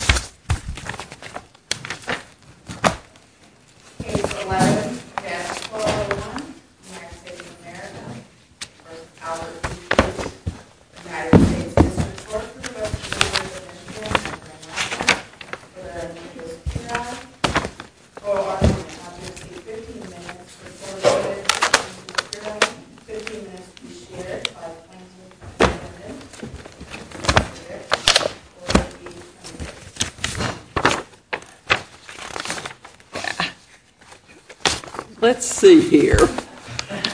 Pase 11, cast 4-1. Let's see here, I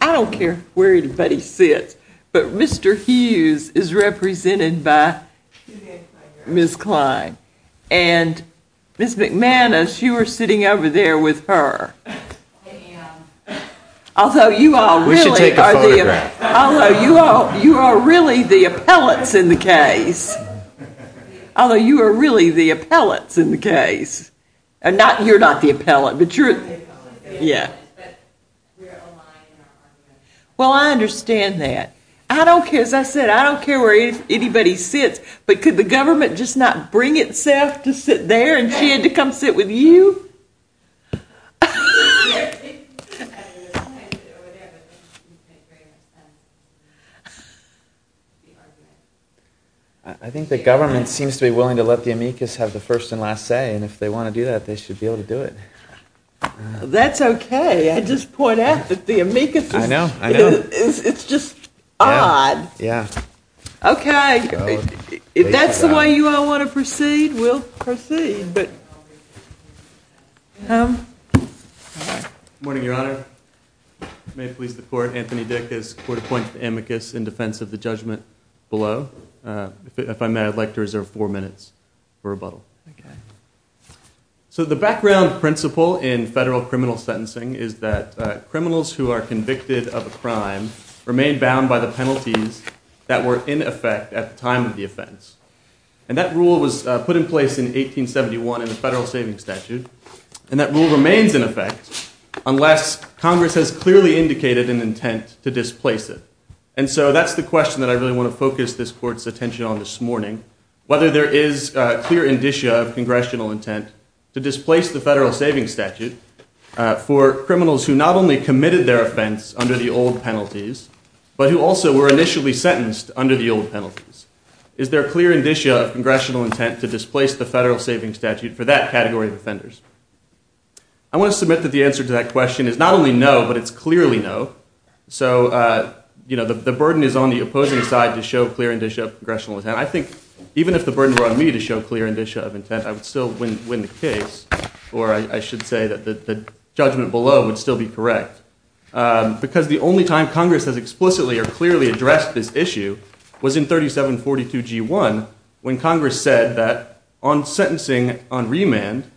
don't care where anybody sits, but Mr. Hughes is represented by Ms. Kline and Ms. McManus, you were sitting over there with her. Although you are really the appellants in the case. Well I understand that. I don't care, as I said, I don't care where anybody sits, but could the government just not bring itself to sit there and she had to come sit with you? I think the government seems to be willing to let the amicus have the first and last say and if they want to do that they should be able to do it. That's okay, I just point out that the amicus is just odd. Okay, if that's the way you all want to proceed, we'll proceed. Good morning, your honor. May it please the court, Anthony Dick has court-appointed the amicus in defense of the judgment below. If I may, I'd like to reserve four minutes for rebuttal. So the background principle in federal criminal sentencing is that criminals who are convicted of a crime remain bound by the penalties that were in effect at the time of the offense. And that rule was put in place in 1871 in the Federal Savings Statute, and that rule remains in effect unless Congress has clearly indicated an intent to displace it. And so that's the question that I really want to focus this court's attention on this morning. Whether there is clear indicia of congressional intent to displace the Federal Savings Statute for criminals who not only committed their offense under the old penalties, but who also were initially sentenced under the old penalties. Is there clear indicia of congressional intent to displace the Federal Savings Statute for that category of offenders? I want to submit that the answer to that question is not only no, but it's clearly no. So the burden is on the opposing side to show clear indicia of congressional intent. I think even if the burden were on me to show clear indicia of intent, I would still win the case, or I should say that the judgment below would still be correct. Because the only time Congress has explicitly or clearly addressed this issue was in 3742G1 when Congress said that on sentencing on remand,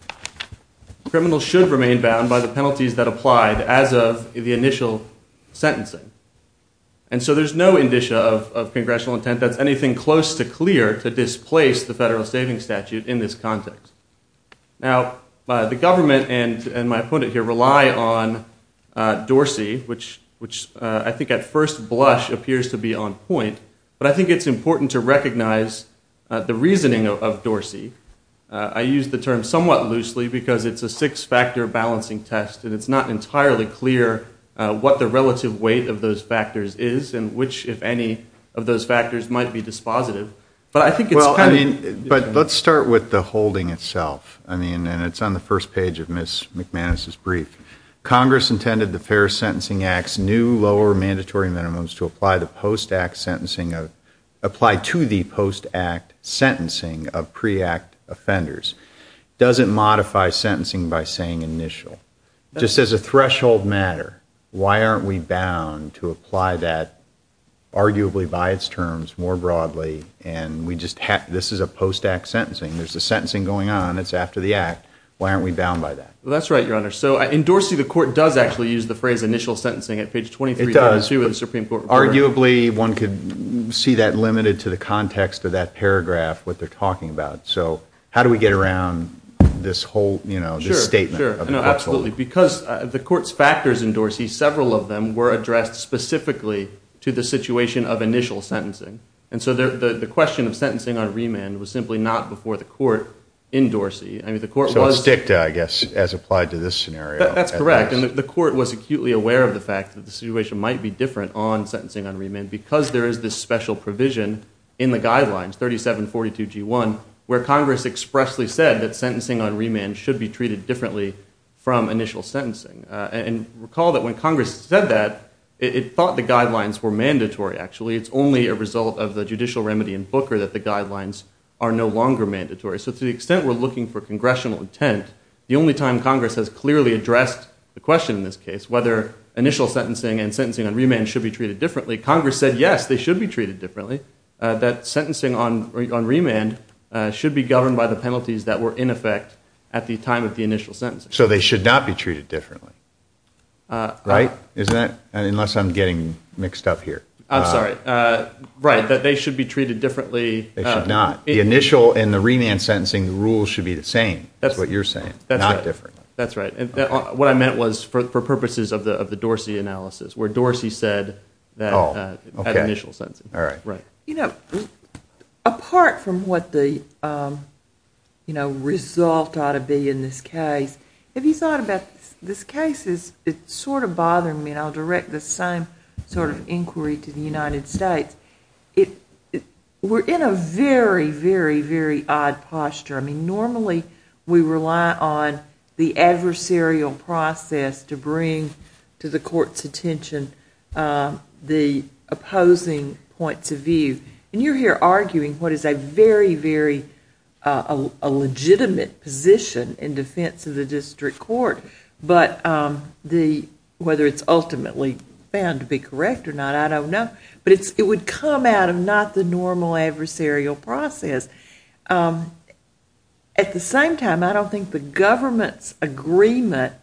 criminals should remain bound by the penalties that applied as of the initial sentencing. And so there's no indicia of congressional intent that's anything close to clear to displace the Federal Savings Statute in this context. Now, the government and my opponent here rely on Dorsey, which I think at first blush appears to be on point, but I think it's important to recognize the reasoning of Dorsey. I use the term somewhat loosely because it's a six-factor balancing test, and it's not entirely clear what the relative weight of those factors is and which, if any, of those factors might be dispositive. But let's start with the holding itself, and it's on the first page of Ms. McManus' brief. Congress intended the Fair Sentencing Act's new lower mandatory minimums to apply to the post-act sentencing of pre-act offenders. Does it modify sentencing by saying initial? Just as a threshold matter, why aren't we bound to apply that arguably by its terms more broadly, and this is a post-act sentencing? There's a sentencing going on. It's after the act. Why aren't we bound by that? Well, that's right, Your Honor. So in Dorsey, the court does actually use the phrase initial sentencing at page 23. It does. Arguably, one could see that limited to the context of that paragraph, what they're talking about. So how do we get around this whole statement? Sure, absolutely. Because the court's factors in Dorsey, several of them were addressed specifically to the situation of initial sentencing. And so the question of sentencing on remand was simply not before the court in Dorsey. So it's dicta, I guess, as applied to this scenario. That's correct, and the court was acutely aware of the fact that the situation might be different on sentencing on remand because there is this special provision in the guidelines, 3742G1, where Congress expressly said that sentencing on remand should be treated differently from initial sentencing. And recall that when Congress said that, it thought the guidelines were mandatory, actually. It's only a result of the judicial remedy in Booker that the guidelines are no longer mandatory. So to the extent we're looking for congressional intent, the only time Congress has clearly addressed the question in this case, whether initial sentencing and sentencing on remand should be treated differently, Congress said, yes, they should be treated differently, that sentencing on remand should be governed by the penalties that were in effect at the time of the initial sentencing. So they should not be treated differently, right? Unless I'm getting mixed up here. I'm sorry. Right, that they should be treated differently. They should not. The initial and the remand sentencing rules should be the same, is what you're saying, not different. That's right. What I meant was for purposes of the Dorsey analysis, where Dorsey said that initial sentencing. You know, apart from what the result ought to be in this case, have you thought about this case is sort of bothering me, and I'll direct the same sort of inquiry to the United States. We're in a very, very, very odd posture. I mean, normally we rely on the adversarial process to bring to the court's attention the opposing points of view. And you're here arguing what is a very, very legitimate position in defense of the district court, but whether it's ultimately found to be correct or not, I don't know. But it would come out of not the normal adversarial process. At the same time, I don't think the government's agreement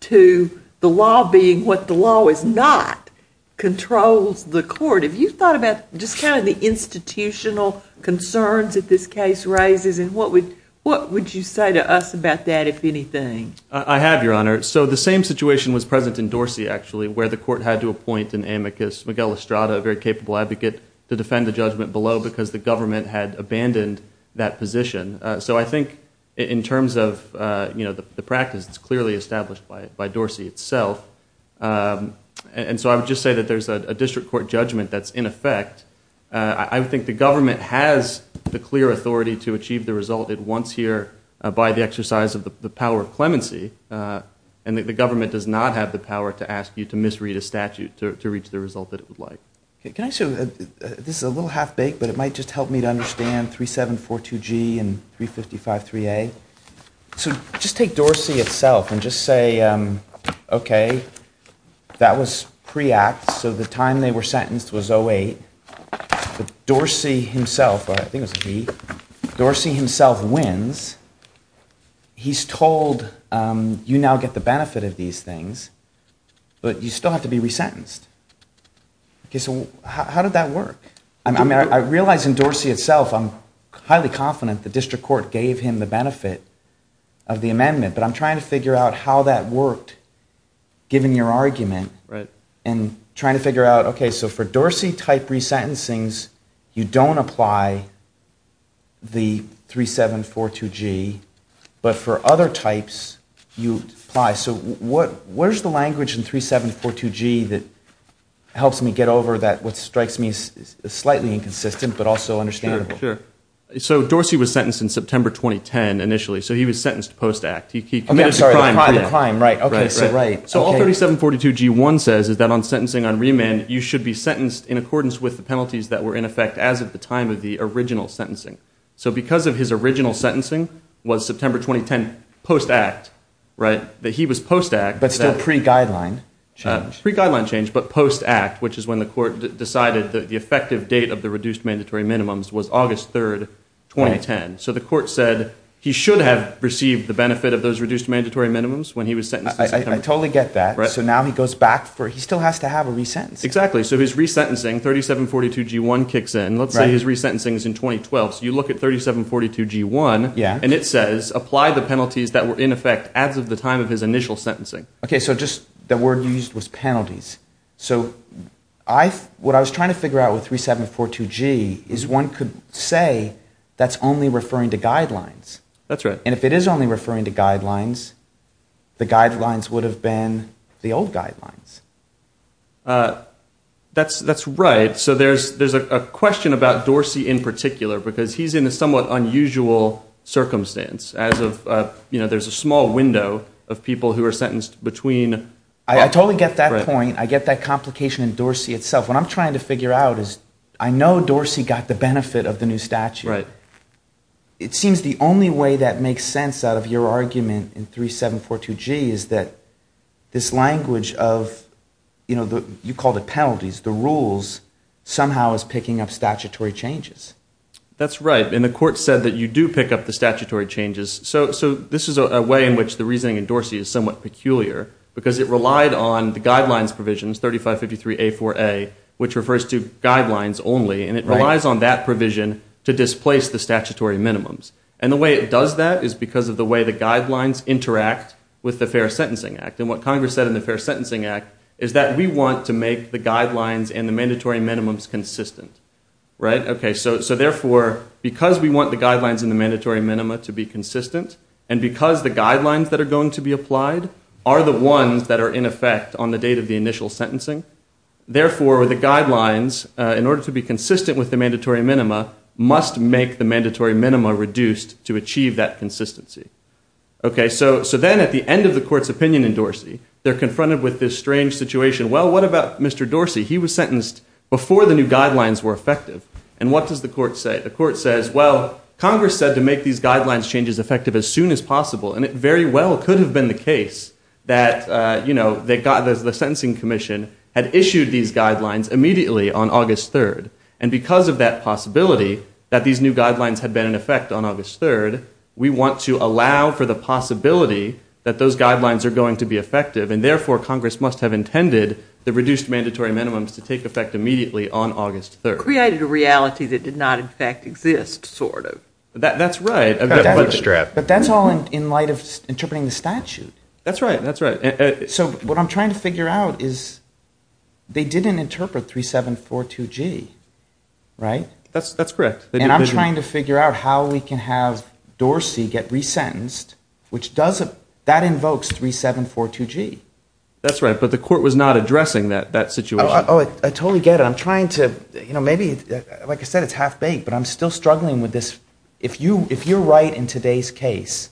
to the law being what the law is not controls the court. Have you thought about just kind of the institutional concerns that this case raises, and what would you say to us about that, if anything? I have, Your Honor. So the same situation was present in Dorsey, actually, where the court had to appoint an amicus, Miguel Estrada, a very capable advocate, to defend the judgment below because the government had abandoned that position. So I think in terms of the practice, it's clearly established by Dorsey itself. And so I would just say that there's a district court judgment that's in effect. I think the government has the clear authority to achieve the result it wants here by the exercise of the power of clemency. And the government does not have the power to ask you to misread a statute to reach the result that it would like. Can I say, this is a little half-baked, but it might just help me to understand 3742G and 3553A. So just take Dorsey itself and just say, okay, that was pre-act. So the time they were sentenced was 08. But Dorsey himself, I think it was G, Dorsey himself wins. He's told, you now get the benefit of these things, but you still have to be resentenced. Okay, so how did that work? I mean, I realize in Dorsey itself, I'm highly confident the district court gave him the benefit of the amendment, but I'm trying to figure out how that worked, given your argument. And trying to figure out, okay, so for Dorsey-type resentencings, you don't apply the 3742G, but for other types, you apply. So where's the language in 3742G that helps me get over that, what strikes me as slightly inconsistent but also understandable? Sure, sure. So Dorsey was sentenced in September 2010, initially. So he was sentenced post-act. I'm sorry, the crime, right. So all 3742G1 says is that on sentencing on remand, you should be sentenced in accordance with the penalties that were in effect as of the time of the original sentencing. So because of his original sentencing was September 2010 post-act, that he was post-act. But still pre-guideline change. Pre-guideline change, but post-act, which is when the court decided the effective date of the reduced mandatory minimums was August 3, 2010. So the court said he should have received the benefit of those reduced mandatory minimums when he was sentenced in September. I totally get that. So now he goes back for, he still has to have a resentencing. Exactly. So his resentencing, 3742G1 kicks in. Let's say his resentencing is in 2012. So you look at 3742G1, and it says apply the penalties that were in effect as of the time of his initial sentencing. Okay, so just the word you used was penalties. So what I was trying to figure out with 3742G is one could say that's only referring to guidelines. That's right. And if it is only referring to guidelines, the guidelines would have been the old guidelines. That's right. So there's a question about Dorsey in particular because he's in a somewhat unusual circumstance as of, you know, there's a small window of people who are sentenced between. I totally get that point. I get that complication in Dorsey itself. What I'm trying to figure out is I know Dorsey got the benefit of the new statute. It seems the only way that makes sense out of your argument in 3742G is that this language of, you know, you called it penalties. The rules somehow is picking up statutory changes. That's right. And the court said that you do pick up the statutory changes. So this is a way in which the reasoning in Dorsey is somewhat peculiar because it relied on the guidelines provisions, 3553A4A, which refers to guidelines only, and it relies on that provision to displace the statutory minimums. And the way it does that is because of the way the guidelines interact with the Fair Sentencing Act. And what Congress said in the Fair Sentencing Act is that we want to make the guidelines and the mandatory minimums consistent. Right? Okay. So therefore, because we want the guidelines and the mandatory minima to be consistent, and because the guidelines that are going to be applied are the ones that are in effect on the date of the initial sentencing, therefore the guidelines, in order to be consistent with the mandatory minima, must make the mandatory minima reduced to achieve that consistency. Okay. So then at the end of the court's opinion in Dorsey, they're confronted with this strange situation. Well, what about Mr. Dorsey? He was sentenced before the new guidelines were effective. And what does the court say? The court says, well, Congress said to make these guidelines changes effective as soon as possible, and it very well could have been the case that, you know, the Sentencing Commission had issued these guidelines immediately on August 3rd. And because of that possibility, that these new guidelines had been in effect on August 3rd, we want to allow for the possibility that those guidelines are going to be effective, and therefore Congress must have intended the reduced mandatory minimums to take effect immediately on August 3rd. Created a reality that did not in fact exist, sort of. That's right. But that's all in light of interpreting the statute. That's right. So what I'm trying to figure out is they didn't interpret 3742G, right? That's correct. And I'm trying to figure out how we can have Dorsey get resentenced, which does, that invokes 3742G. That's right. But the court was not addressing that situation. Oh, I totally get it. I'm trying to, you know, maybe, like I said, it's half-baked, but I'm still struggling with this. If you're right in today's case,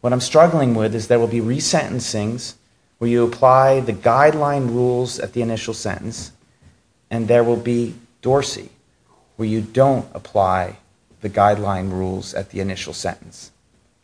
what I'm struggling with is there will be resentencings where you apply the guideline rules at the initial sentence, and there will be Dorsey where you don't apply the guideline rules at the initial sentence.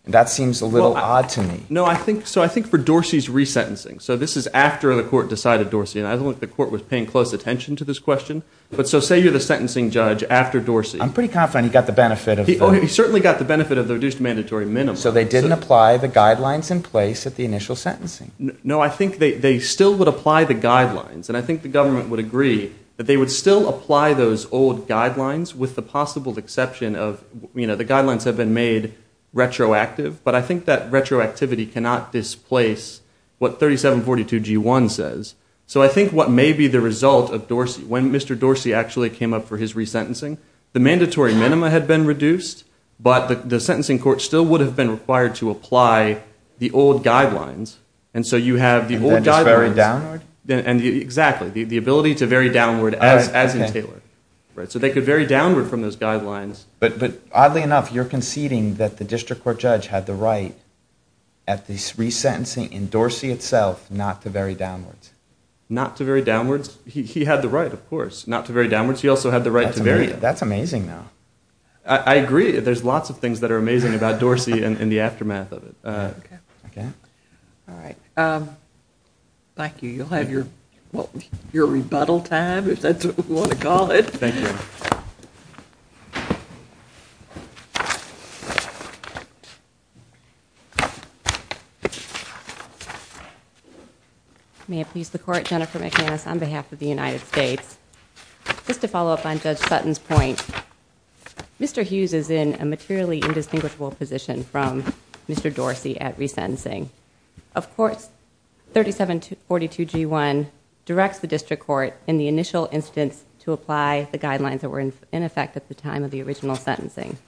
And that seems a little odd to me. No, I think, so I think for Dorsey's resentencing, so this is after the court decided Dorsey, and I don't think the court was paying close attention to this question, but so say you're the sentencing judge after Dorsey. I'm pretty confident he got the benefit of the reduced mandatory minimum. So they didn't apply the guidelines in place at the initial sentencing. No, I think they still would apply the guidelines. And I think the government would agree that they would still apply those old guidelines with the possible exception of, you know, the guidelines have been made retroactive, but I think that retroactivity cannot displace what 3742G1 says. So I think what may be the result of Dorsey, when Mr. Dorsey actually came up for his resentencing, the mandatory minimum had been reduced, but the sentencing court still would have been required to apply the old guidelines. And so you have the old guidelines. And then it's very downward? Exactly. The ability to vary downward as in Taylor. So they could vary downward from those guidelines. But oddly enough, you're conceding that the district court judge had the right at the resentencing in Dorsey itself not to vary downwards. Not to vary downwards? He had the right, of course, not to vary downwards. He also had the right to vary it. That's amazing, though. I agree. There's lots of things that are amazing about Dorsey and the aftermath of it. All right. Thank you. You'll have your rebuttal time, if that's what you want to call it. Thank you. May it please the Court, Jennifer McManus on behalf of the United States. Just to follow up on Judge Sutton's point, Mr. Hughes is in a materially indistinguishable position from Mr. Dorsey at resentencing. Of course, 3742G1 directs the district court in the initial instance to apply the guidelines that were in effect at the time of the original sentencing.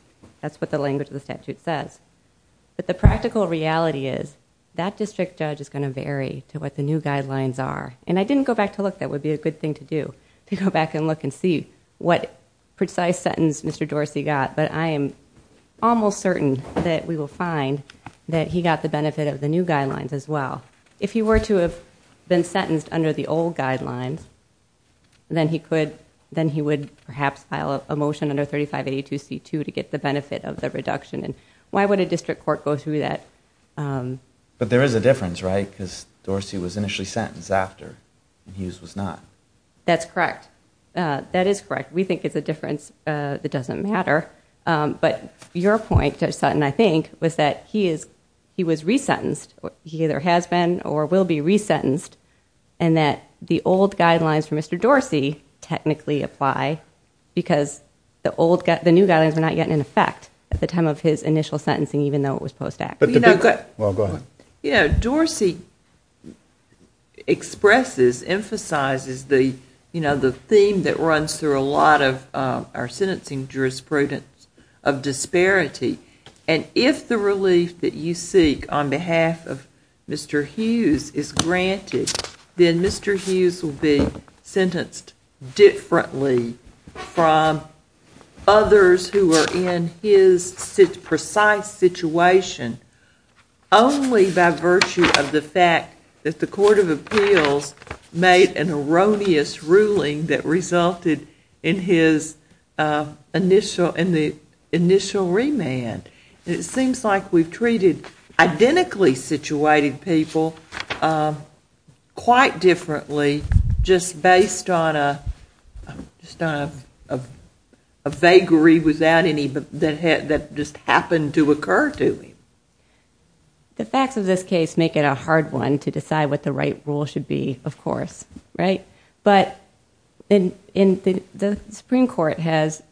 That's what the language of the statute says. But the practical reality is that district judge is going to vary to what the new guidelines are. And I didn't go back to look. That would be a good thing to do, to go back and look and see what precise sentence Mr. Dorsey got. But I am almost certain that we will find that he got the benefit of the new guidelines as well. If he were to have been sentenced under the old guidelines, then he would perhaps file a motion under 3582C2 to get the benefit of the reduction. And why would a district court go through that? But there is a difference, right? Because Dorsey was initially sentenced after and Hughes was not. That's correct. That is correct. We think it's a difference that doesn't matter. But your point, Judge Sutton, I think, was that he was resentenced. He either has been or will be resentenced. And that the old guidelines for Mr. Dorsey technically apply because the new guidelines were not yet in effect at the time of his initial sentencing, even though it was post-act. Well, go ahead. You know, Dorsey expresses, emphasizes the, you know, the theme that runs through a lot of our sentencing jurisprudence of disparity. And if the relief that you seek on behalf of Mr. Hughes is granted, then Mr. Hughes will be sentenced differently from others who are in his precise situation, only by virtue of the fact that the Court of Appeals made an erroneous ruling that resulted in his initial, in the initial remand. It seems like we've treated identically situated people quite differently just based on a vagary without any, that just happened to occur to him. The facts of this case make it a hard one to decide what the right rule should be, of course, right? But the Supreme Court has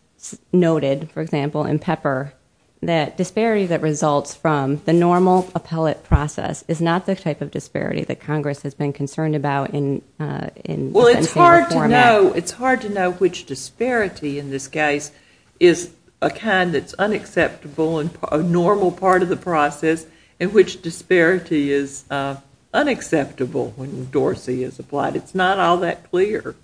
noted, for example, in Pepper, that disparity that results from the normal appellate process is not the type of disparity that Congress has been concerned about in sentencing reform. Well, it's hard to know. It's hard to know which disparity in this case is a kind that's unacceptable and a normal part of the process and which disparity is unacceptable when Dorsey is applied. It's not all that clear.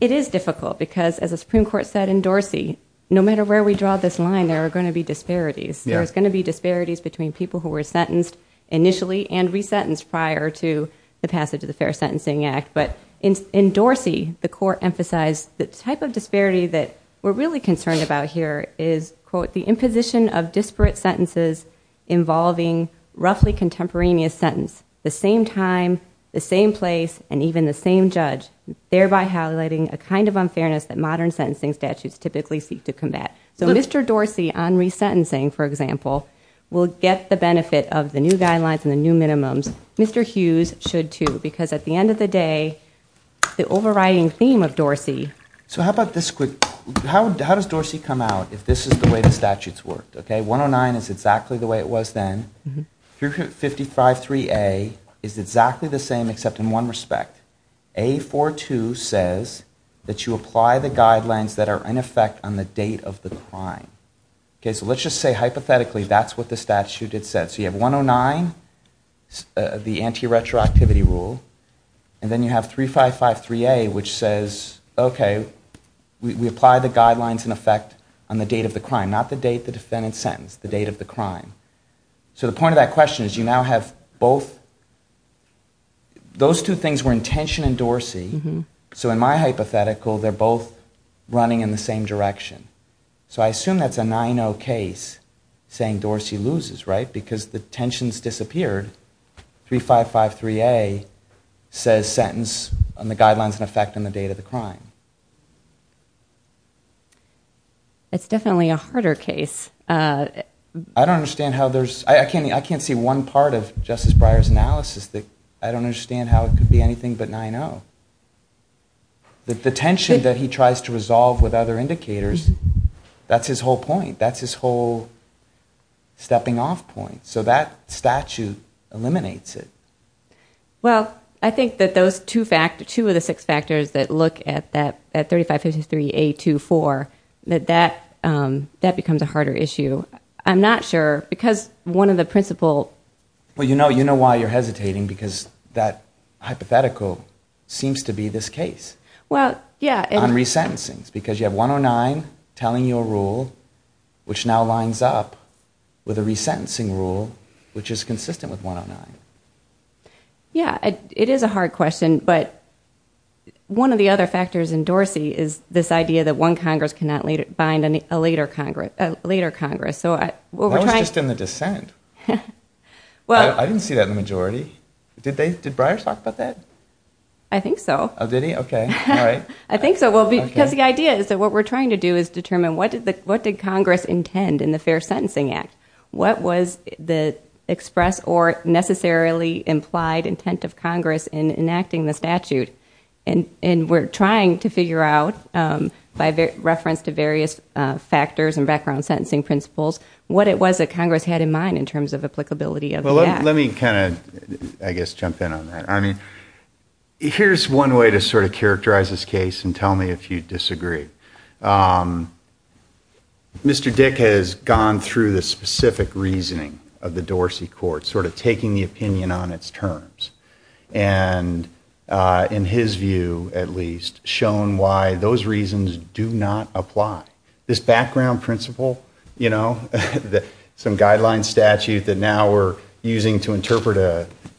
It is difficult because, as the Supreme Court said in Dorsey, no matter where we draw this line, there are going to be disparities. There's going to be disparities between people who were sentenced initially and resentenced prior to the passage of the Fair Sentencing Act. But in Dorsey, the court emphasized the type of disparity that we're really concerned about here is, quote, the imposition of disparate sentences involving roughly contemporaneous sentence, the same time, the same place, and even the same judge, thereby highlighting a kind of unfairness that modern sentencing statutes typically seek to combat. So Mr. Dorsey on resentencing, for example, will get the benefit of the new guidelines and the new minimums. Mr. Hughes should, too, because at the end of the day, the overriding theme of Dorsey. So how about this quick? How does Dorsey come out if this is the way the statutes worked? Okay, 109 is exactly the way it was then. 3553A is exactly the same except in one respect. A42 says that you apply the guidelines that are in effect on the date of the crime. Okay, so let's just say hypothetically that's what the statute had said. So you have 109, the anti-retroactivity rule. And then you have 3553A, which says, okay, we apply the guidelines in effect on the date of the crime, not the date the defendant sentenced, the date of the crime. So the point of that question is you now have both. Those two things were in tension in Dorsey. So in my hypothetical, they're both running in the same direction. So I assume that's a 9-0 case saying Dorsey loses, right? Because the tension's disappeared. 3553A says sentence on the guidelines in effect on the date of the crime. It's definitely a harder case. I don't understand how there's – I can't see one part of Justice Breyer's analysis that I don't understand how it could be anything but 9-0. The tension that he tries to resolve with other indicators, that's his whole point. That's his whole stepping-off point. So that statute eliminates it. Well, I think that those two of the six factors that look at 3553A24, that that becomes a harder issue. I'm not sure, because one of the principal... Well, you know why you're hesitating, because that hypothetical seems to be this case. On resentencings, because you have 109 telling you a rule which now lines up with a resentencing rule which is consistent with 109. Yeah, it is a hard question, but one of the other factors in Dorsey is this idea that one Congress cannot bind a later Congress. That was just in the dissent. I didn't see that in the majority. Did Breyer talk about that? I think so. Oh, did he? Okay. I think so, because the idea is that what we're trying to do is determine what did Congress intend in the Fair Sentencing Act? What was the express or necessarily implied intent of Congress in enacting the statute? And we're trying to figure out, by reference to various factors and background sentencing principles, what it was that Congress had in mind in terms of applicability of the act. Well, let me kind of, I guess, jump in on that. I mean, here's one way to sort of characterize this case, and tell me if you disagree. Mr. Dick has gone through the specific reasoning of the Dorsey court, sort of taking the opinion on its terms, and in his view, at least, shown why those reasons do not apply. This background principle, you know, some guidelines statute that now we're using to interpret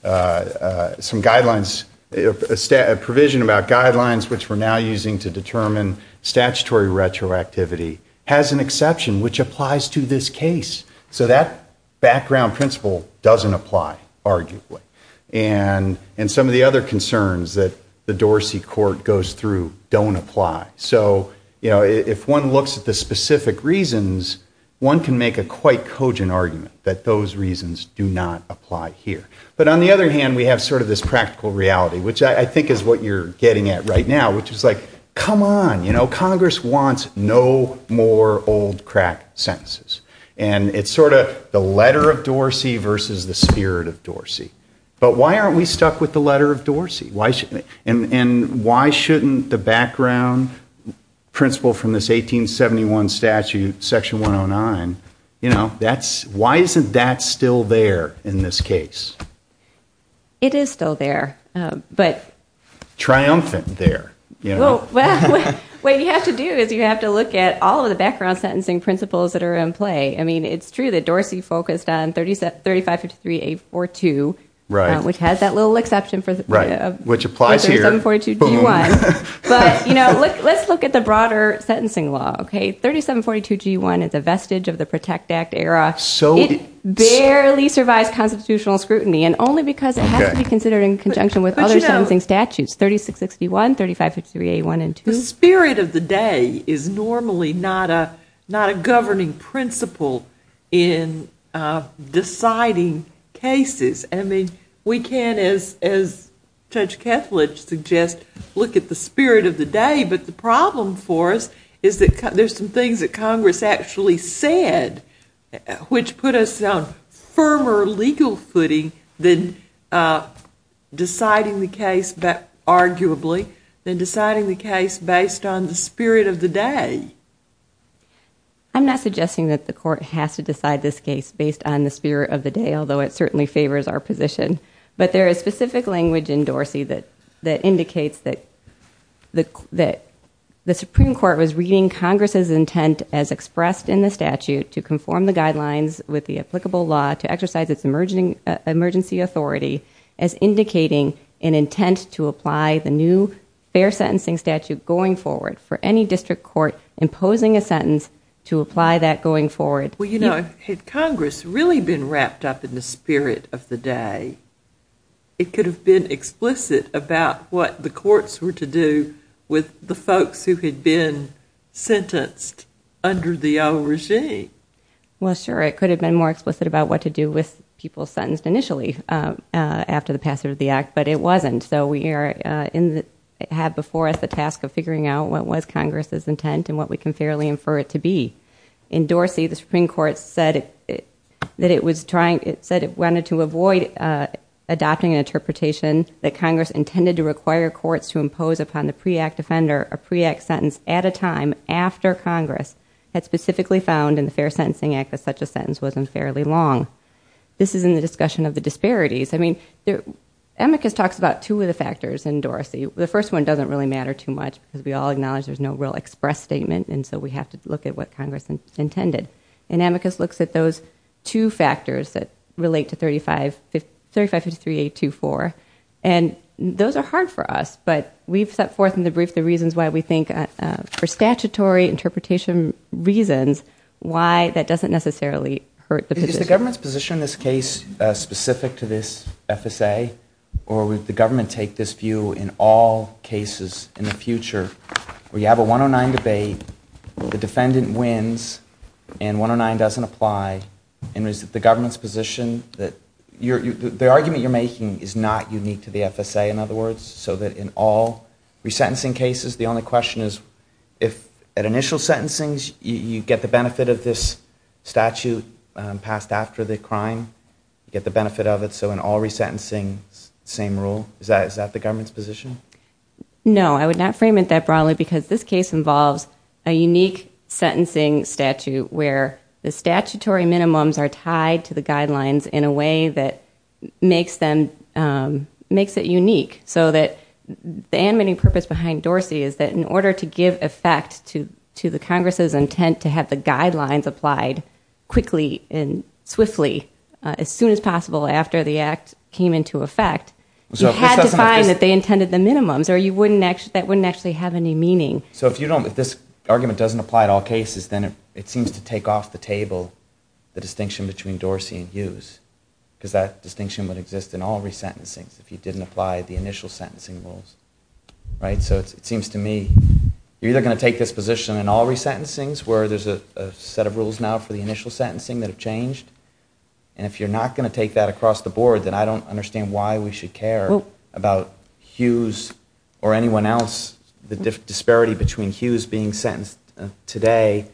some guidelines, a provision about guidelines, which we're now using to determine statutory retroactivity, has an exception, which applies to this case. So that background principle doesn't apply, arguably. And some of the other concerns that the Dorsey court goes through don't apply. So, you know, if one looks at the specific reasons, one can make a quite cogent argument that those reasons do not apply here. But on the other hand, we have sort of this practical reality, which I think is what you're getting at right now, which is like, come on, you know, Congress wants no more old crack sentences. And it's sort of the letter of Dorsey versus the spirit of Dorsey. But why aren't we stuck with the letter of Dorsey? And why shouldn't the background principle from this 1871 statute, Section 109, you know, why isn't that still there in this case? It is still there. Triumphant there. Well, what you have to do is you have to look at all of the background sentencing principles that are in play. I mean, it's true that Dorsey focused on 3553A42, which has that little exception for 3742G1. But, you know, let's look at the broader sentencing law. 3742G1 is a vestige of the Protect Act era. It barely survives constitutional scrutiny, and only because it has to be considered in conjunction with other sentencing statutes, 3661, 3553A1 and 2. The spirit of the day is normally not a governing principle in deciding cases. I mean, we can, as Judge Kethledge suggests, look at the spirit of the day. But the problem for us is that there's some things that Congress actually said, which put us on firmer legal footing than deciding the case, arguably, than deciding the case based on the spirit of the day. I'm not suggesting that the court has to decide this case based on the spirit of the day, although it certainly favors our position. But there is specific language in Dorsey that indicates that the Supreme Court was reading Congress's intent as expressed in the statute to conform the guidelines with the applicable law to exercise its emergency authority as indicating an intent to apply the new fair sentencing statute going forward for any district court imposing a sentence to apply that going forward. Well, you know, had Congress really been wrapped up in the spirit of the day, it could have been explicit about what the courts were to do with the folks who had been sentenced under the old regime. Well, sure, it could have been more explicit about what to do with people sentenced initially after the passage of the Act, but it wasn't. So we had before us the task of figuring out what was Congress's intent and what we can fairly infer it to be. In Dorsey, the Supreme Court said it wanted to avoid adopting an interpretation that Congress intended to require courts to impose upon the pre-Act offender a pre-Act sentence at a time after Congress had specifically found in the Fair Sentencing Act that such a sentence wasn't fairly long. This is in the discussion of the disparities. I mean, Amicus talks about two of the factors in Dorsey. The first one doesn't really matter too much because we all acknowledge there's no real express statement, and so we have to look at what Congress intended. And Amicus looks at those two factors that relate to 3553A24, and those are hard for us, but we've set forth in the brief the reasons why we think for statutory interpretation reasons why that doesn't necessarily hurt the position. Is the government's position on this case specific to this FSA, or would the government take this view in all cases in the future where you have a 109 debate, the defendant wins, and 109 doesn't apply, and is it the government's position that the argument you're making is not unique to the FSA, in other words, so that in all resentencing cases the only question is if at initial sentencing you get the benefit of this statute passed after the crime, you get the benefit of it, so in all resentencing, same rule? Is that the government's position? No, I would not frame it that broadly because this case involves a unique sentencing statute where the statutory minimums are tied to the guidelines in a way that makes it unique so that the amending purpose behind Dorsey is that in order to give effect to the Congress's intent to have the guidelines applied quickly and swiftly, as soon as possible after the act came into effect, you had to find that they intended the minimums or that wouldn't actually have any meaning. So if this argument doesn't apply in all cases, then it seems to take off the table the distinction between Dorsey and Hughes because that distinction would exist in all resentencings if you didn't apply the initial sentencing rules. So it seems to me you're either going to take this position in all resentencings where there's a set of rules now for the initial sentencing that have changed, and if you're not going to take that across the board, then I don't understand why we should care about Hughes or anyone else, the disparity between Hughes being sentenced today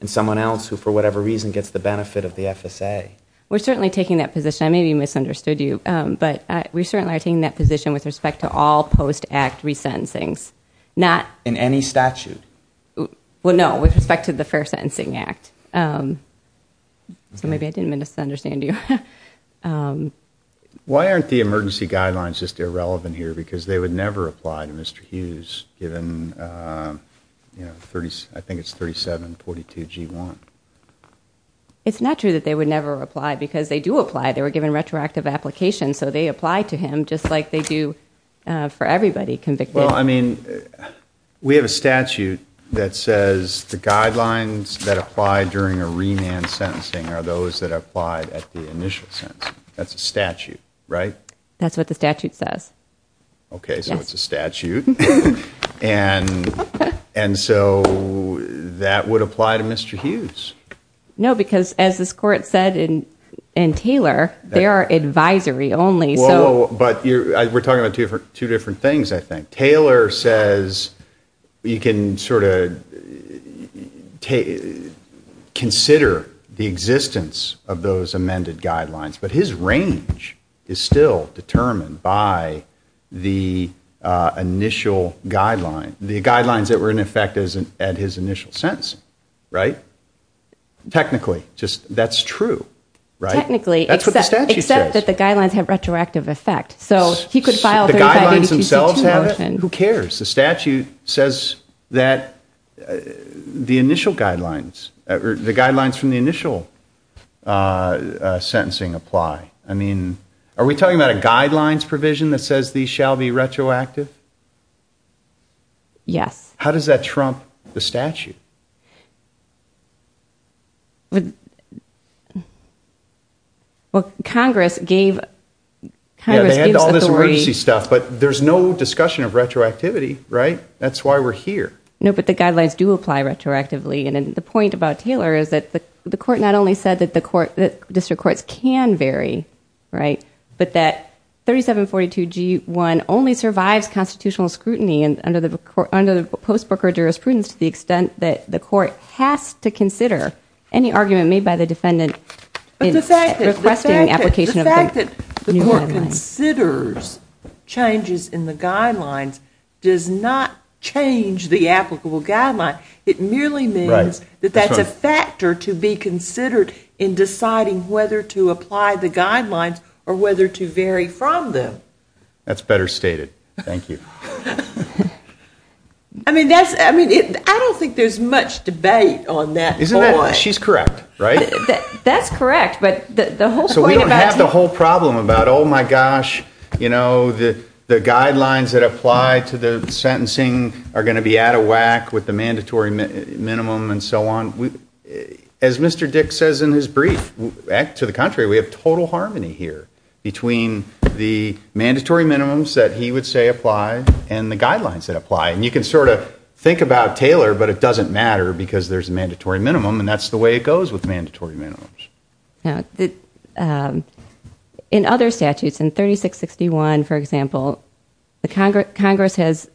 and someone else who, for whatever reason, gets the benefit of the FSA. We're certainly taking that position. I may have misunderstood you, but we certainly are taking that position with respect to all post-act resentencings. In any statute? Well, no, with respect to the Fair Sentencing Act. So maybe I didn't misunderstand you. Why aren't the emergency guidelines just irrelevant here? Because they would never apply to Mr. Hughes given, I think it's 3742G1. It's not true that they would never apply because they do apply. They were given retroactive applications, so they apply to him just like they do for everybody convicted. Well, I mean, we have a statute that says the guidelines that apply during a remand sentencing are those that apply at the initial sentencing. That's a statute, right? That's what the statute says. Okay, so it's a statute. And so that would apply to Mr. Hughes. No, because as this Court said in Taylor, they are advisory only. But we're talking about two different things, I think. Taylor says you can sort of consider the existence of those amended guidelines, but his range is still determined by the initial guidelines, the guidelines that were in effect at his initial sentence, right? Technically, that's true, right? Technically, except that the guidelines have retroactive effect. So he could file 3582G2 more often. Who cares? The statute says that the initial guidelines, the guidelines from the initial sentencing apply. I mean, are we talking about a guidelines provision that says these shall be retroactive? Yes. How does that trump the statute? Well, Congress gave... Yeah, they had all this emergency stuff, but there's no discussion of retroactivity, right? That's why we're here. No, but the guidelines do apply retroactively. And the point about Taylor is that the Court not only said that district courts can vary, right, but that 3742G1 only survives constitutional scrutiny under the post-broker jurisprudence to the extent that the Court has to consider any argument made by the defendant in requesting application of the new guidelines. But the fact that the Court considers changes in the guidelines does not change the applicable guideline. It merely means that that's a factor to be considered in deciding whether to apply the guidelines or whether to vary from them. That's better stated. Thank you. I mean, I don't think there's much debate on that point. She's correct, right? That's correct, but the whole point about... So we don't have the whole problem about, oh, my gosh, you know, the guidelines that apply to the sentencing are going to be out of whack with the mandatory minimum and so on. As Mr. Dick says in his brief, to the contrary, we have total harmony here between the mandatory minimums that he would say apply and the guidelines that apply. And you can sort of think about Taylor, but it doesn't matter because there's a mandatory minimum, and that's the way it goes with mandatory minimums. In other statutes, in 3661, for example, Congress has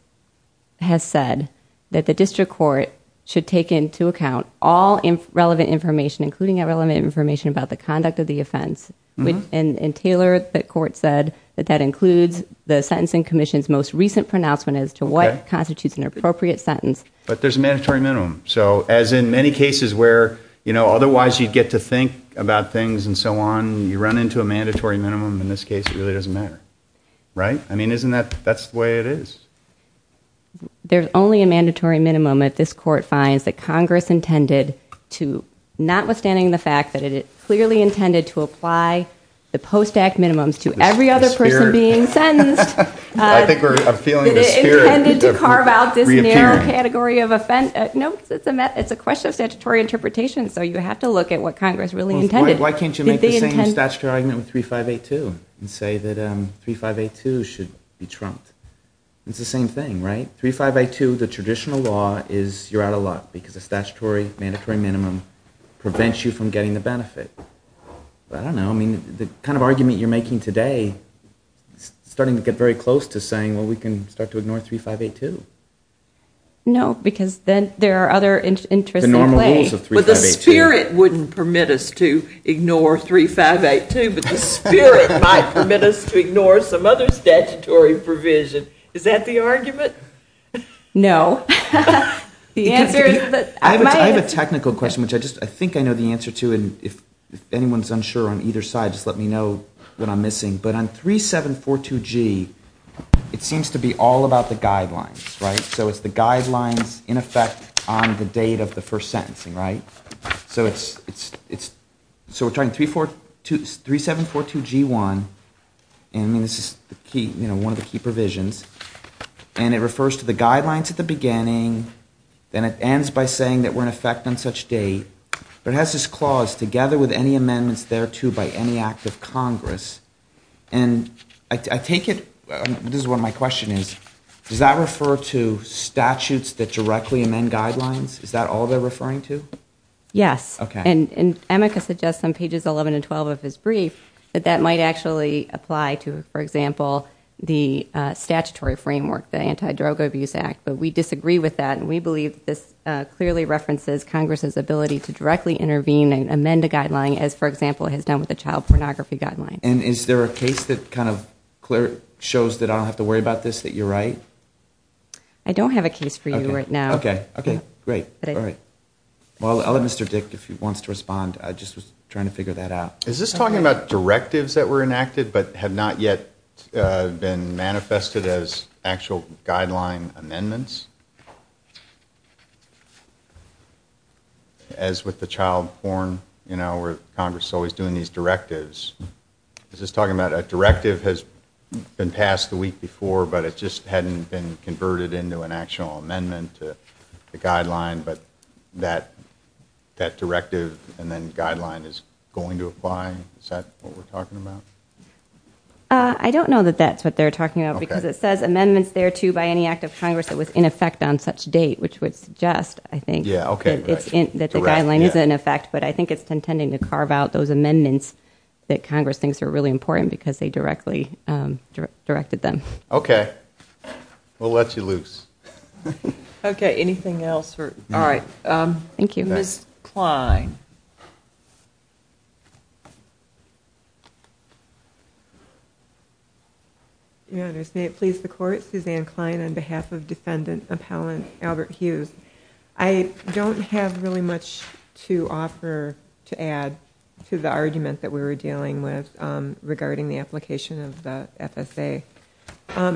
said that the District Court should take into account all relevant information, including relevant information about the conduct of the offense. And Taylor, the Court said that that includes the Sentencing Commission's most recent pronouncement as to what constitutes an appropriate sentence. But there's a mandatory minimum. So as in many cases where, you know, otherwise you'd get to think about things and so on, you run into a mandatory minimum. In this case, it really doesn't matter, right? I mean, isn't that... that's the way it is. There's only a mandatory minimum if this Court finds that Congress intended to, notwithstanding the fact that it clearly intended to apply the post-act minimums to every other person being sentenced... I think we're feeling the spirit... It's a question of statutory interpretation, so you have to look at what Congress really intended. Why can't you make the same statutory argument with 3582 and say that 3582 should be trumped? It's the same thing, right? 3582, the traditional law is you're out of luck because a statutory mandatory minimum prevents you from getting the benefit. But I don't know, I mean, the kind of argument you're making today is starting to get very close to saying, well, we can start to ignore 3582. No, because then there are other interests at play. But the spirit wouldn't permit us to ignore 3582, but the spirit might permit us to ignore some other statutory provision. Is that the argument? No. I have a technical question, which I think I know the answer to, and if anyone's unsure on either side, just let me know what I'm missing. But on 3742G, it seems to be all about the guidelines, right? So it's the guidelines in effect on the date of the first sentencing, right? So we're talking 3742G1, and this is one of the key provisions, and it refers to the guidelines at the beginning, then it ends by saying that we're in effect on such date, but it has this clause, together with any amendments thereto by any act of Congress. And I take it, this is where my question is, does that refer to statutes that directly amend guidelines? Is that all they're referring to? Yes. Okay. And AMICA suggests on pages 11 and 12 of his brief that that might actually apply to, for example, the statutory framework, the Anti-Drug Abuse Act, but we disagree with that, and we believe this clearly references Congress's ability to directly intervene and amend a guideline, as, for example, it has done with the Child Pornography Guideline. And is there a case that kind of shows that I don't have to worry about this, that you're right? I don't have a case for you right now. Okay. Okay, great. All right. Well, I'll let Mr. Dick, if he wants to respond. I just was trying to figure that out. Is this talking about directives that were enacted but have not yet been manifested as actual guideline amendments? As with the child porn, you know, Congress is always doing these directives. Is this talking about a directive has been passed the week before but it just hadn't been converted into an actual amendment to the guideline, but that directive and then guideline is going to apply? Is that what we're talking about? I don't know that that's what they're talking about because it says amendments thereto by any act of Congress that was in effect on such date, which would suggest, I think, that the guideline is in effect, but I think it's intending to carve out those amendments that Congress thinks are really important because they directly directed them. Okay. We'll let you loose. Okay. Anything else? All right. Thank you. Ms. Klein. Your Honors, may it please the Court, Suzanne Klein on behalf of Defendant Appellant Albert Hughes. I don't have really much to offer to add to the argument that we were dealing with regarding the application of the FSA.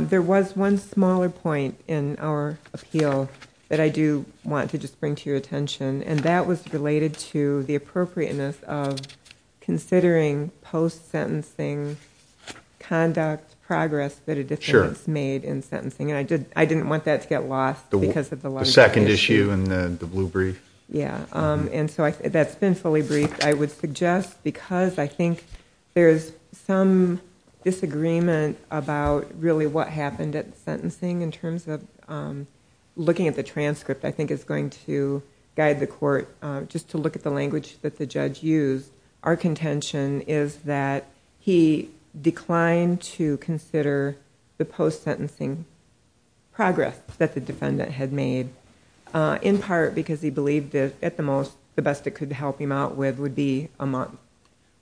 There was one smaller point in our appeal that I do want to just bring to your attention and that was related to the appropriateness of considering post-sentencing conduct progress that a defendant has made in sentencing. And I didn't want that to get lost because of the larger issue. The second issue in the blue brief? Yeah. And so that's been fully briefed. I would suggest because I think there's some disagreement about really what happened at sentencing in terms of looking at the transcript, I think it's going to guide the Court just to look at the language that the judge used. Our contention is that he declined to consider the post-sentencing progress that the defendant had made in part because he believed that at the most, the best it could help him out with would be a month.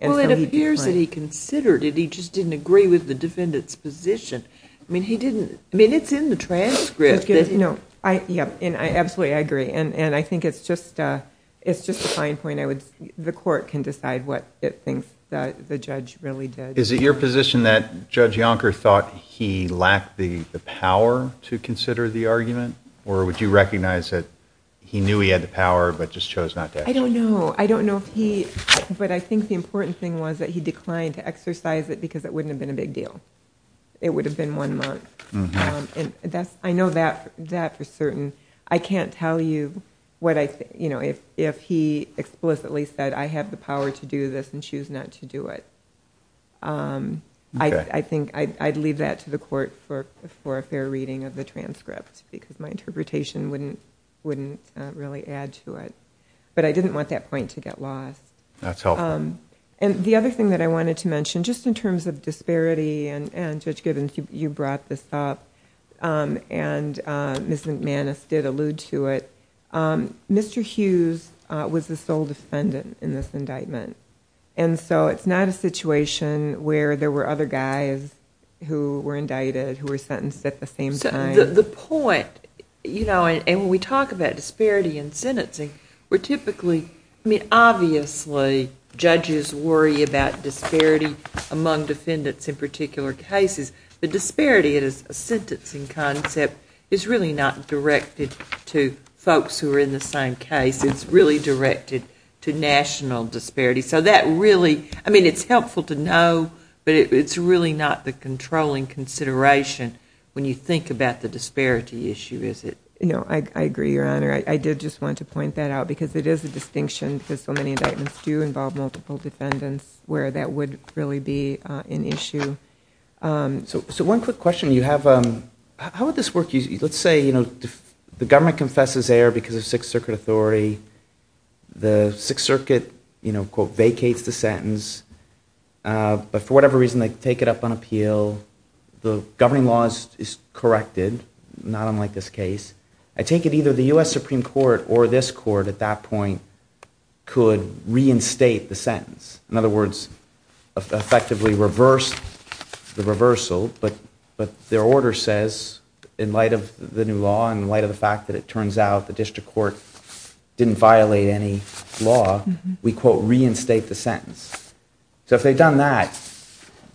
Well, it appears that he considered it. He just didn't agree with the defendant's position. I mean, he didn't... I mean, it's in the transcript. Yeah. Absolutely, I agree. And I think it's just a fine point. The Court can decide what it thinks the judge really did. Is it your position that Judge Yonker thought he lacked the power to consider the argument or would you recognize that he knew he had the power but just chose not to? I don't know. I don't know if he... But I think the important thing was that he declined to exercise it because it wouldn't have been a big deal. It would have been one month. I know that for certain. I can't tell you if he explicitly said, I have the power to do this and choose not to do it. I think I'd leave that to the Court for a fair reading of the transcript because my interpretation wouldn't really add to it. But I didn't want that point to get lost. And the other thing that I wanted to mention, just in terms of disparity and Judge Gibbons, you brought this up and Ms. McManus did allude to it. Mr. Hughes was the sole defendant in this indictment. It's not a situation where there were other guys who were indicted who were sentenced at the same time. The point, and when we talk about disparity in sentencing, we're typically... among defendants in particular cases, the disparity in a sentencing concept is really not directed to folks who are in the same case. It's really directed to national disparity. So that really... I mean, it's helpful to know, but it's really not the controlling consideration when you think about the disparity issue, is it? No, I agree, Your Honor. I did just want to point that out because it is a distinction because so many indictments do involve multiple defendants where that would really be an issue. So one quick question. You have... how would this work? Let's say, you know, the government confesses error because of Sixth Circuit authority. The Sixth Circuit, you know, quote, vacates the sentence. But for whatever reason, they take it up on appeal. The governing law is corrected, not unlike this case. I take it either the U.S. Supreme Court or this court at that point could reinstate the sentence. In other words, effectively reverse the reversal, but their order says, in light of the new law and in light of the fact that it turns out the district court didn't violate any law, we, quote, reinstate the sentence. So if they've done that,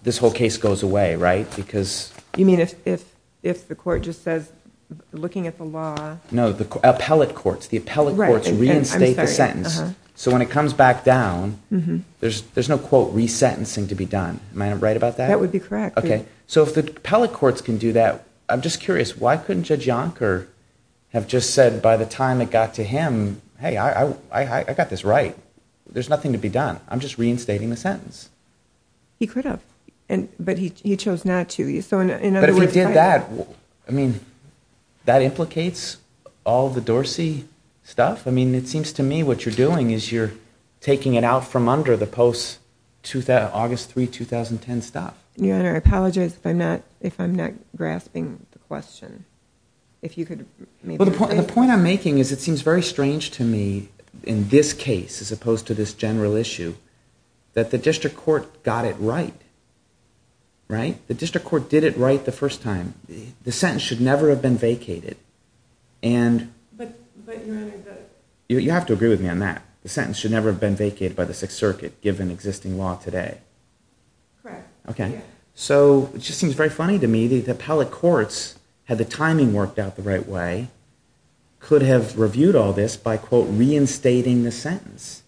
this whole case goes away, right? Because... You mean if the court just says, looking at the law... The appellate courts reinstate the sentence. So when it comes back down, there's no, quote, resentencing to be done. Am I right about that? That would be correct. Okay. So if the appellate courts can do that, I'm just curious, why couldn't Judge Yonker have just said by the time it got to him, hey, I got this right. There's nothing to be done. I'm just reinstating the sentence. He could have. But he chose not to. But if he did that, I mean, that implicates all the Dorsey stuff? I mean, it seems to me what you're doing is you're taking it out from under the post-August 3, 2010 stuff. Your Honor, I apologize if I'm not grasping the question. If you could maybe explain... Well, the point I'm making is it seems very strange to me, in this case as opposed to this general issue, that the district court got it right, right? The district court did it right the first time. The sentence should never have been vacated. But, Your Honor... You have to agree with me on that. The sentence should never have been vacated by the Sixth Circuit given existing law today. Correct. Okay. So it just seems very funny to me that appellate courts, had the timing worked out the right way, could have reviewed all this by, quote, reinstating the sentence.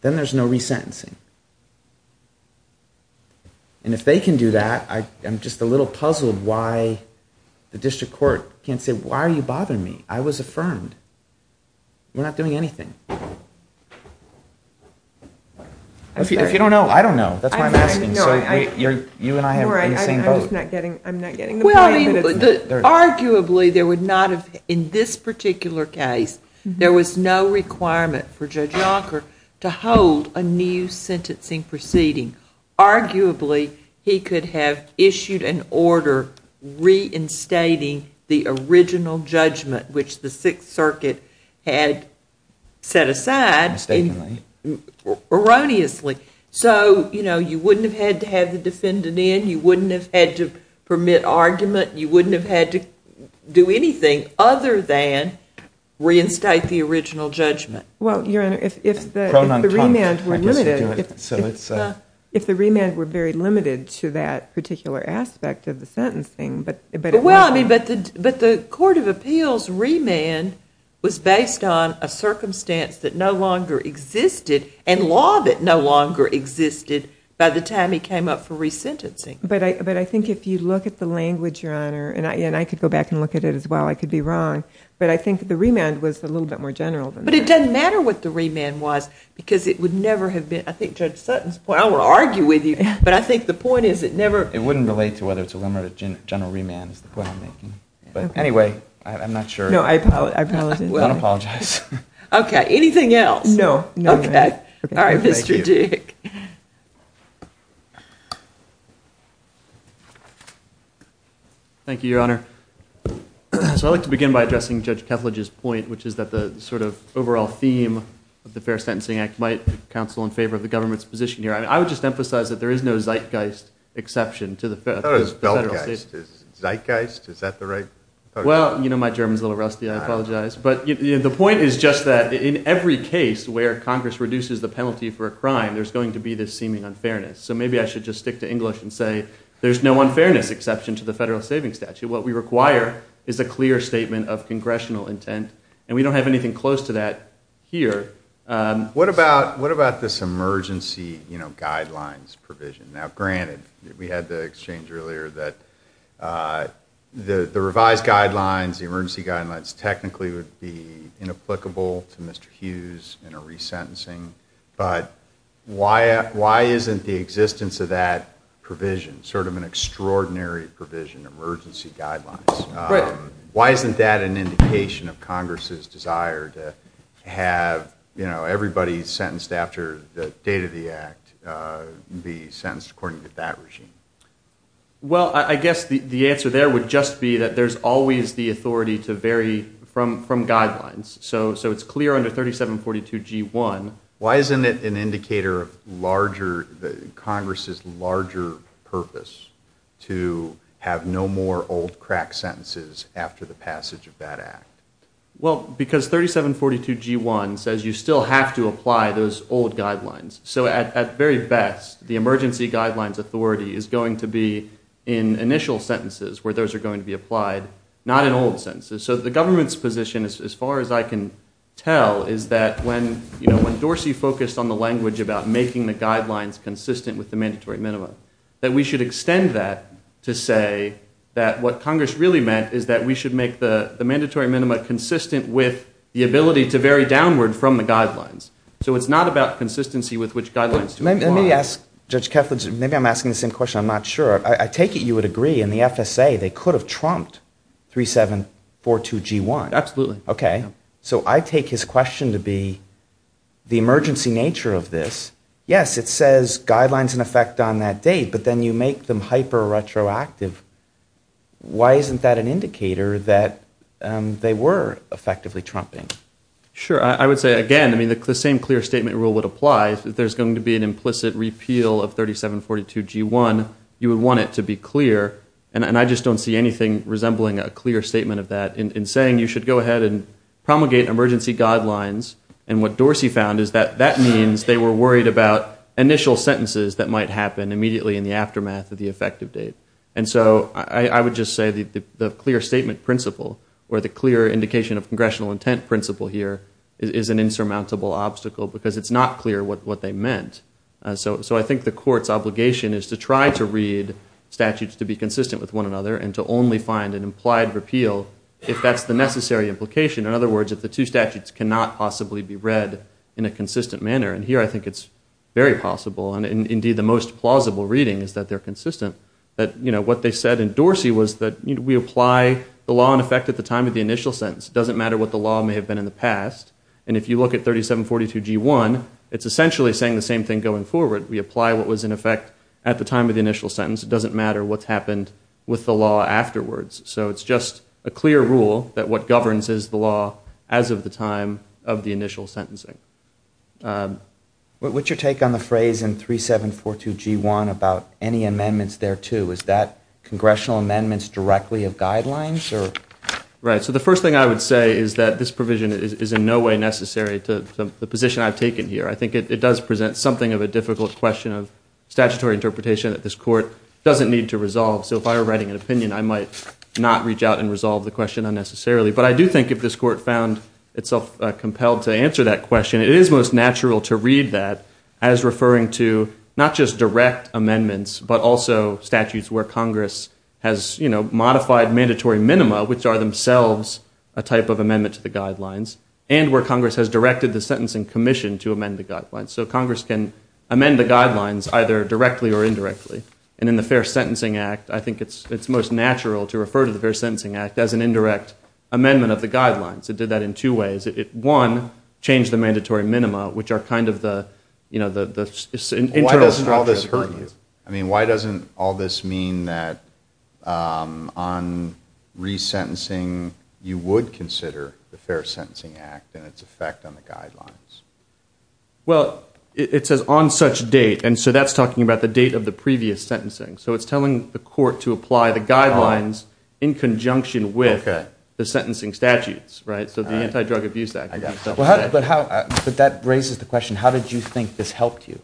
Then there's no resentencing. And if they can do that, I'm just a little puzzled as to why the district court can't say, why are you bothering me? I was affirmed. We're not doing anything. If you don't know, I don't know. That's why I'm asking. So you and I are in the same boat. I'm not getting the point. Arguably, in this particular case, there was no requirement for Judge Yonker to hold a new sentencing proceeding. Arguably, he could have issued an order reinstating the original judgment, which the Sixth Circuit had set aside. Mistakenly. Erroneously. So, you know, you wouldn't have had to have the defendant in. You wouldn't have had to permit argument. You wouldn't have had to do anything other than reinstate the original judgment. Well, Your Honor, if the remand were limited... If the remand were very limited to that particular aspect of the sentencing, but... Well, I mean, but the Court of Appeals remand was based on a circumstance that no longer existed and law that no longer existed by the time he came up for resentencing. But I think if you look at the language, Your Honor, and I could go back and look at it as well, I could be wrong, but I think the remand was a little bit more general than that. because it would never have been... I think Judge Sutton's point... I don't want to argue with you, but I think the point is it never... It wouldn't relate to whether it's a limited general remand is the point I'm making. But anyway, I'm not sure... No, I apologize. I don't apologize. Okay. Anything else? No. Okay. All right, Mr. Dick. Thank you, Your Honor. So I'd like to begin by addressing Judge Kethledge's point, which is that the sort of overall theme of the Fair Sentencing Act might counsel in favor of the government's position here. I would just emphasize that there is no zeitgeist exception to the Federal... I thought it was beltgeist. Is it zeitgeist? Is that the right... Well, you know, my German's a little rusty. I apologize. But the point is just that in every case where Congress reduces the penalty for a crime, there's going to be this seeming unfairness. So maybe I should just stick to English and say there's no unfairness exception to the Federal Savings Statute. What we require is a clear statement of congressional intent, and we don't have anything close to that here. What about this emergency guidelines provision? Now, granted, we had the exchange earlier that the revised guidelines, the emergency guidelines technically would be inapplicable to Mr. Hughes in a resentencing. But why isn't the existence of that provision, sort of an extraordinary provision, emergency guidelines, why isn't that an indication of Congress's desire to have everybody sentenced after the date of the act be sentenced according to that regime? Well, I guess the answer there would just be that there's always the authority to vary from guidelines. So it's clear under 3742G1... Why isn't it an indicator of larger, Congress's larger purpose to have no more old crack sentences after the passage of that act? Well, because 3742G1 says you still have to apply those old guidelines. So at very best, the emergency guidelines authority is going to be in initial sentences where those are going to be applied, not in old sentences. So the government's position, as far as I can tell, is that when Dorsey focused on the language about making the guidelines consistent with the mandatory minimum, that we should extend that to say that what Congress really meant is that we should make the mandatory minimum consistent with the ability to vary downward from the guidelines. So it's not about consistency with which guidelines to apply. Let me ask Judge Keflin, maybe I'm asking the same question, I'm not sure. I take it you would agree in the FSA they could have trumped 3742G1. Absolutely. Okay. So I take his question to be the emergency nature of this. Yes, it says guidelines in effect on that date, but then you make them hyper-retroactive. Why isn't that an indicator that they were effectively trumping? Sure. I would say, again, the same clear statement rule would apply. If there's going to be an implicit repeal of 3742G1, you would want it to be clear. And I just don't see anything resembling a clear statement of that in saying you should go ahead and promulgate emergency guidelines. And what Dorsey found is that that means they were worried about initial sentences that might happen immediately in the aftermath of the effective date. And so I would just say the clear statement principle, or the clear indication of congressional intent principle here, is an insurmountable obstacle because it's not clear what they meant. So I think the court's obligation is to try to read statutes to be consistent with one another and to only find an implied repeal if that's the necessary implication. In other words, if the two statutes cannot possibly be read in a consistent manner. And here I think it's very possible, and indeed the most plausible reading is that they're consistent, that what they said in Dorsey was that we apply the law in effect at the time of the initial sentence. It doesn't matter what the law may have been in the past. And if you look at 3742G1, it's essentially saying the same thing going forward. We apply what was in effect at the time of the initial sentence. It doesn't matter what's happened with the law afterwards. So it's just a clear rule that what governs is the law as of the time of the initial sentencing. What's your take on the phrase in 3742G1 about any amendments thereto? Is that congressional amendments directly of guidelines? Right. So the first thing I would say is that this provision is in no way necessary to the position I've taken here. I think it does present something of a difficult question of statutory interpretation that this court doesn't need to resolve. So if I were writing an opinion, I might not reach out and resolve the question unnecessarily. But I do think if this court found itself compelled to answer that question, it is most natural to read that as referring to not just direct amendments but also statutes where Congress has modified mandatory minima, which are themselves a type of amendment to the guidelines, and where Congress has directed the Sentencing Commission to amend the guidelines. So Congress can amend the guidelines either directly or indirectly. And in the Fair Sentencing Act, I think it's most natural to refer to the Fair Sentencing Act as an indirect amendment of the guidelines. It did that in two ways. One, change the mandatory minima, which are kind of the internal structure. Why does all this hurt you? I mean, why doesn't all this mean that on resentencing, you would consider the Fair Sentencing Act and its effect on the guidelines? Well, it says on such date. And so that's talking about the date of the previous sentencing. So it's telling the court to apply the guidelines in conjunction with the sentencing statutes. So the Anti-Drug Abuse Act. But that raises the question, how did you think this helped you?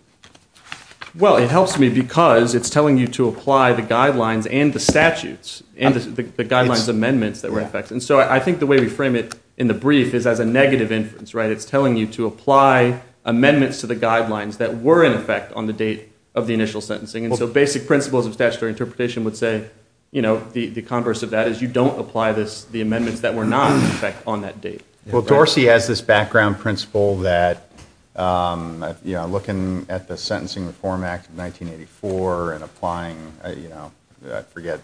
Well, it helps me because it's telling you to apply the guidelines and the statutes and the guidelines amendments that were in effect. And so I think the way we frame it in the brief is as a negative inference. It's telling you to apply amendments to the guidelines that were in effect on the date of the initial sentencing. And so basic principles of statutory interpretation would say, you know, the converse of that is you don't apply the amendments that were not in effect on that date. Well, Dorsey has this background principle that, you know, looking at the Sentencing Reform Act of 1984 and applying, you know, I forget,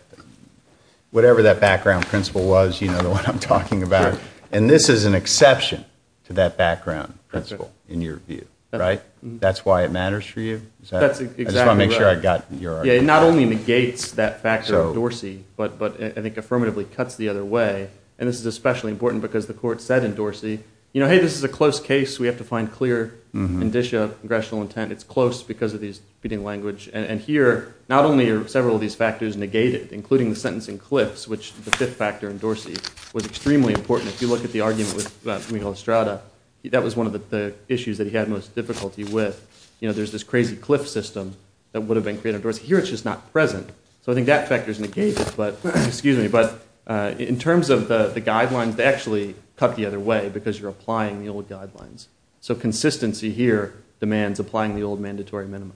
whatever that background principle was, you know what I'm talking about. And this is an exception to that background principle in your view, right? That's why it matters for you? That's exactly right. I just want to make sure I got your argument. Yeah, it not only negates that factor in Dorsey, but I think affirmatively cuts the other way. And this is especially important because the court said in Dorsey, you know, hey, this is a close case. We have to find clear indicia of congressional intent. It's close because of these feeding language. And here not only are several of these factors negated, including the sentencing cliffs, which the fifth factor in Dorsey was extremely important. If you look at the argument with Miguel Estrada, that was one of the issues that he had most difficulty with. You know, there's this crazy cliff system that would have been created in Dorsey. Here it's just not present. So I think that factor is negated. But in terms of the guidelines, they actually cut the other way because you're applying the old guidelines. So consistency here demands applying the old mandatory minimum.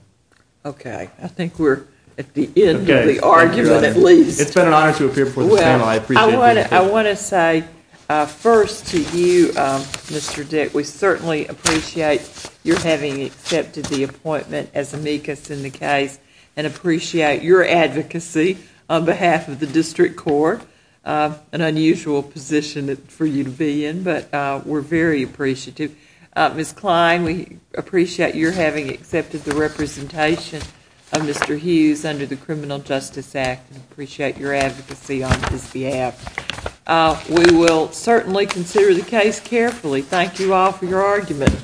Okay. I think we're at the end of the argument at least. It's been an honor to appear before this panel. I appreciate it. I want to say first to you, Mr. Dick, we certainly appreciate your having accepted the appointment as amicus in the case and appreciate your advocacy on behalf of the district court, an unusual position for you to be in, but we're very appreciative. Ms. Klein, we appreciate your having accepted the representation of Mr. Hughes under the Criminal Justice Act and appreciate your advocacy on his behalf. We will certainly consider the case carefully. Thank you all for your argument.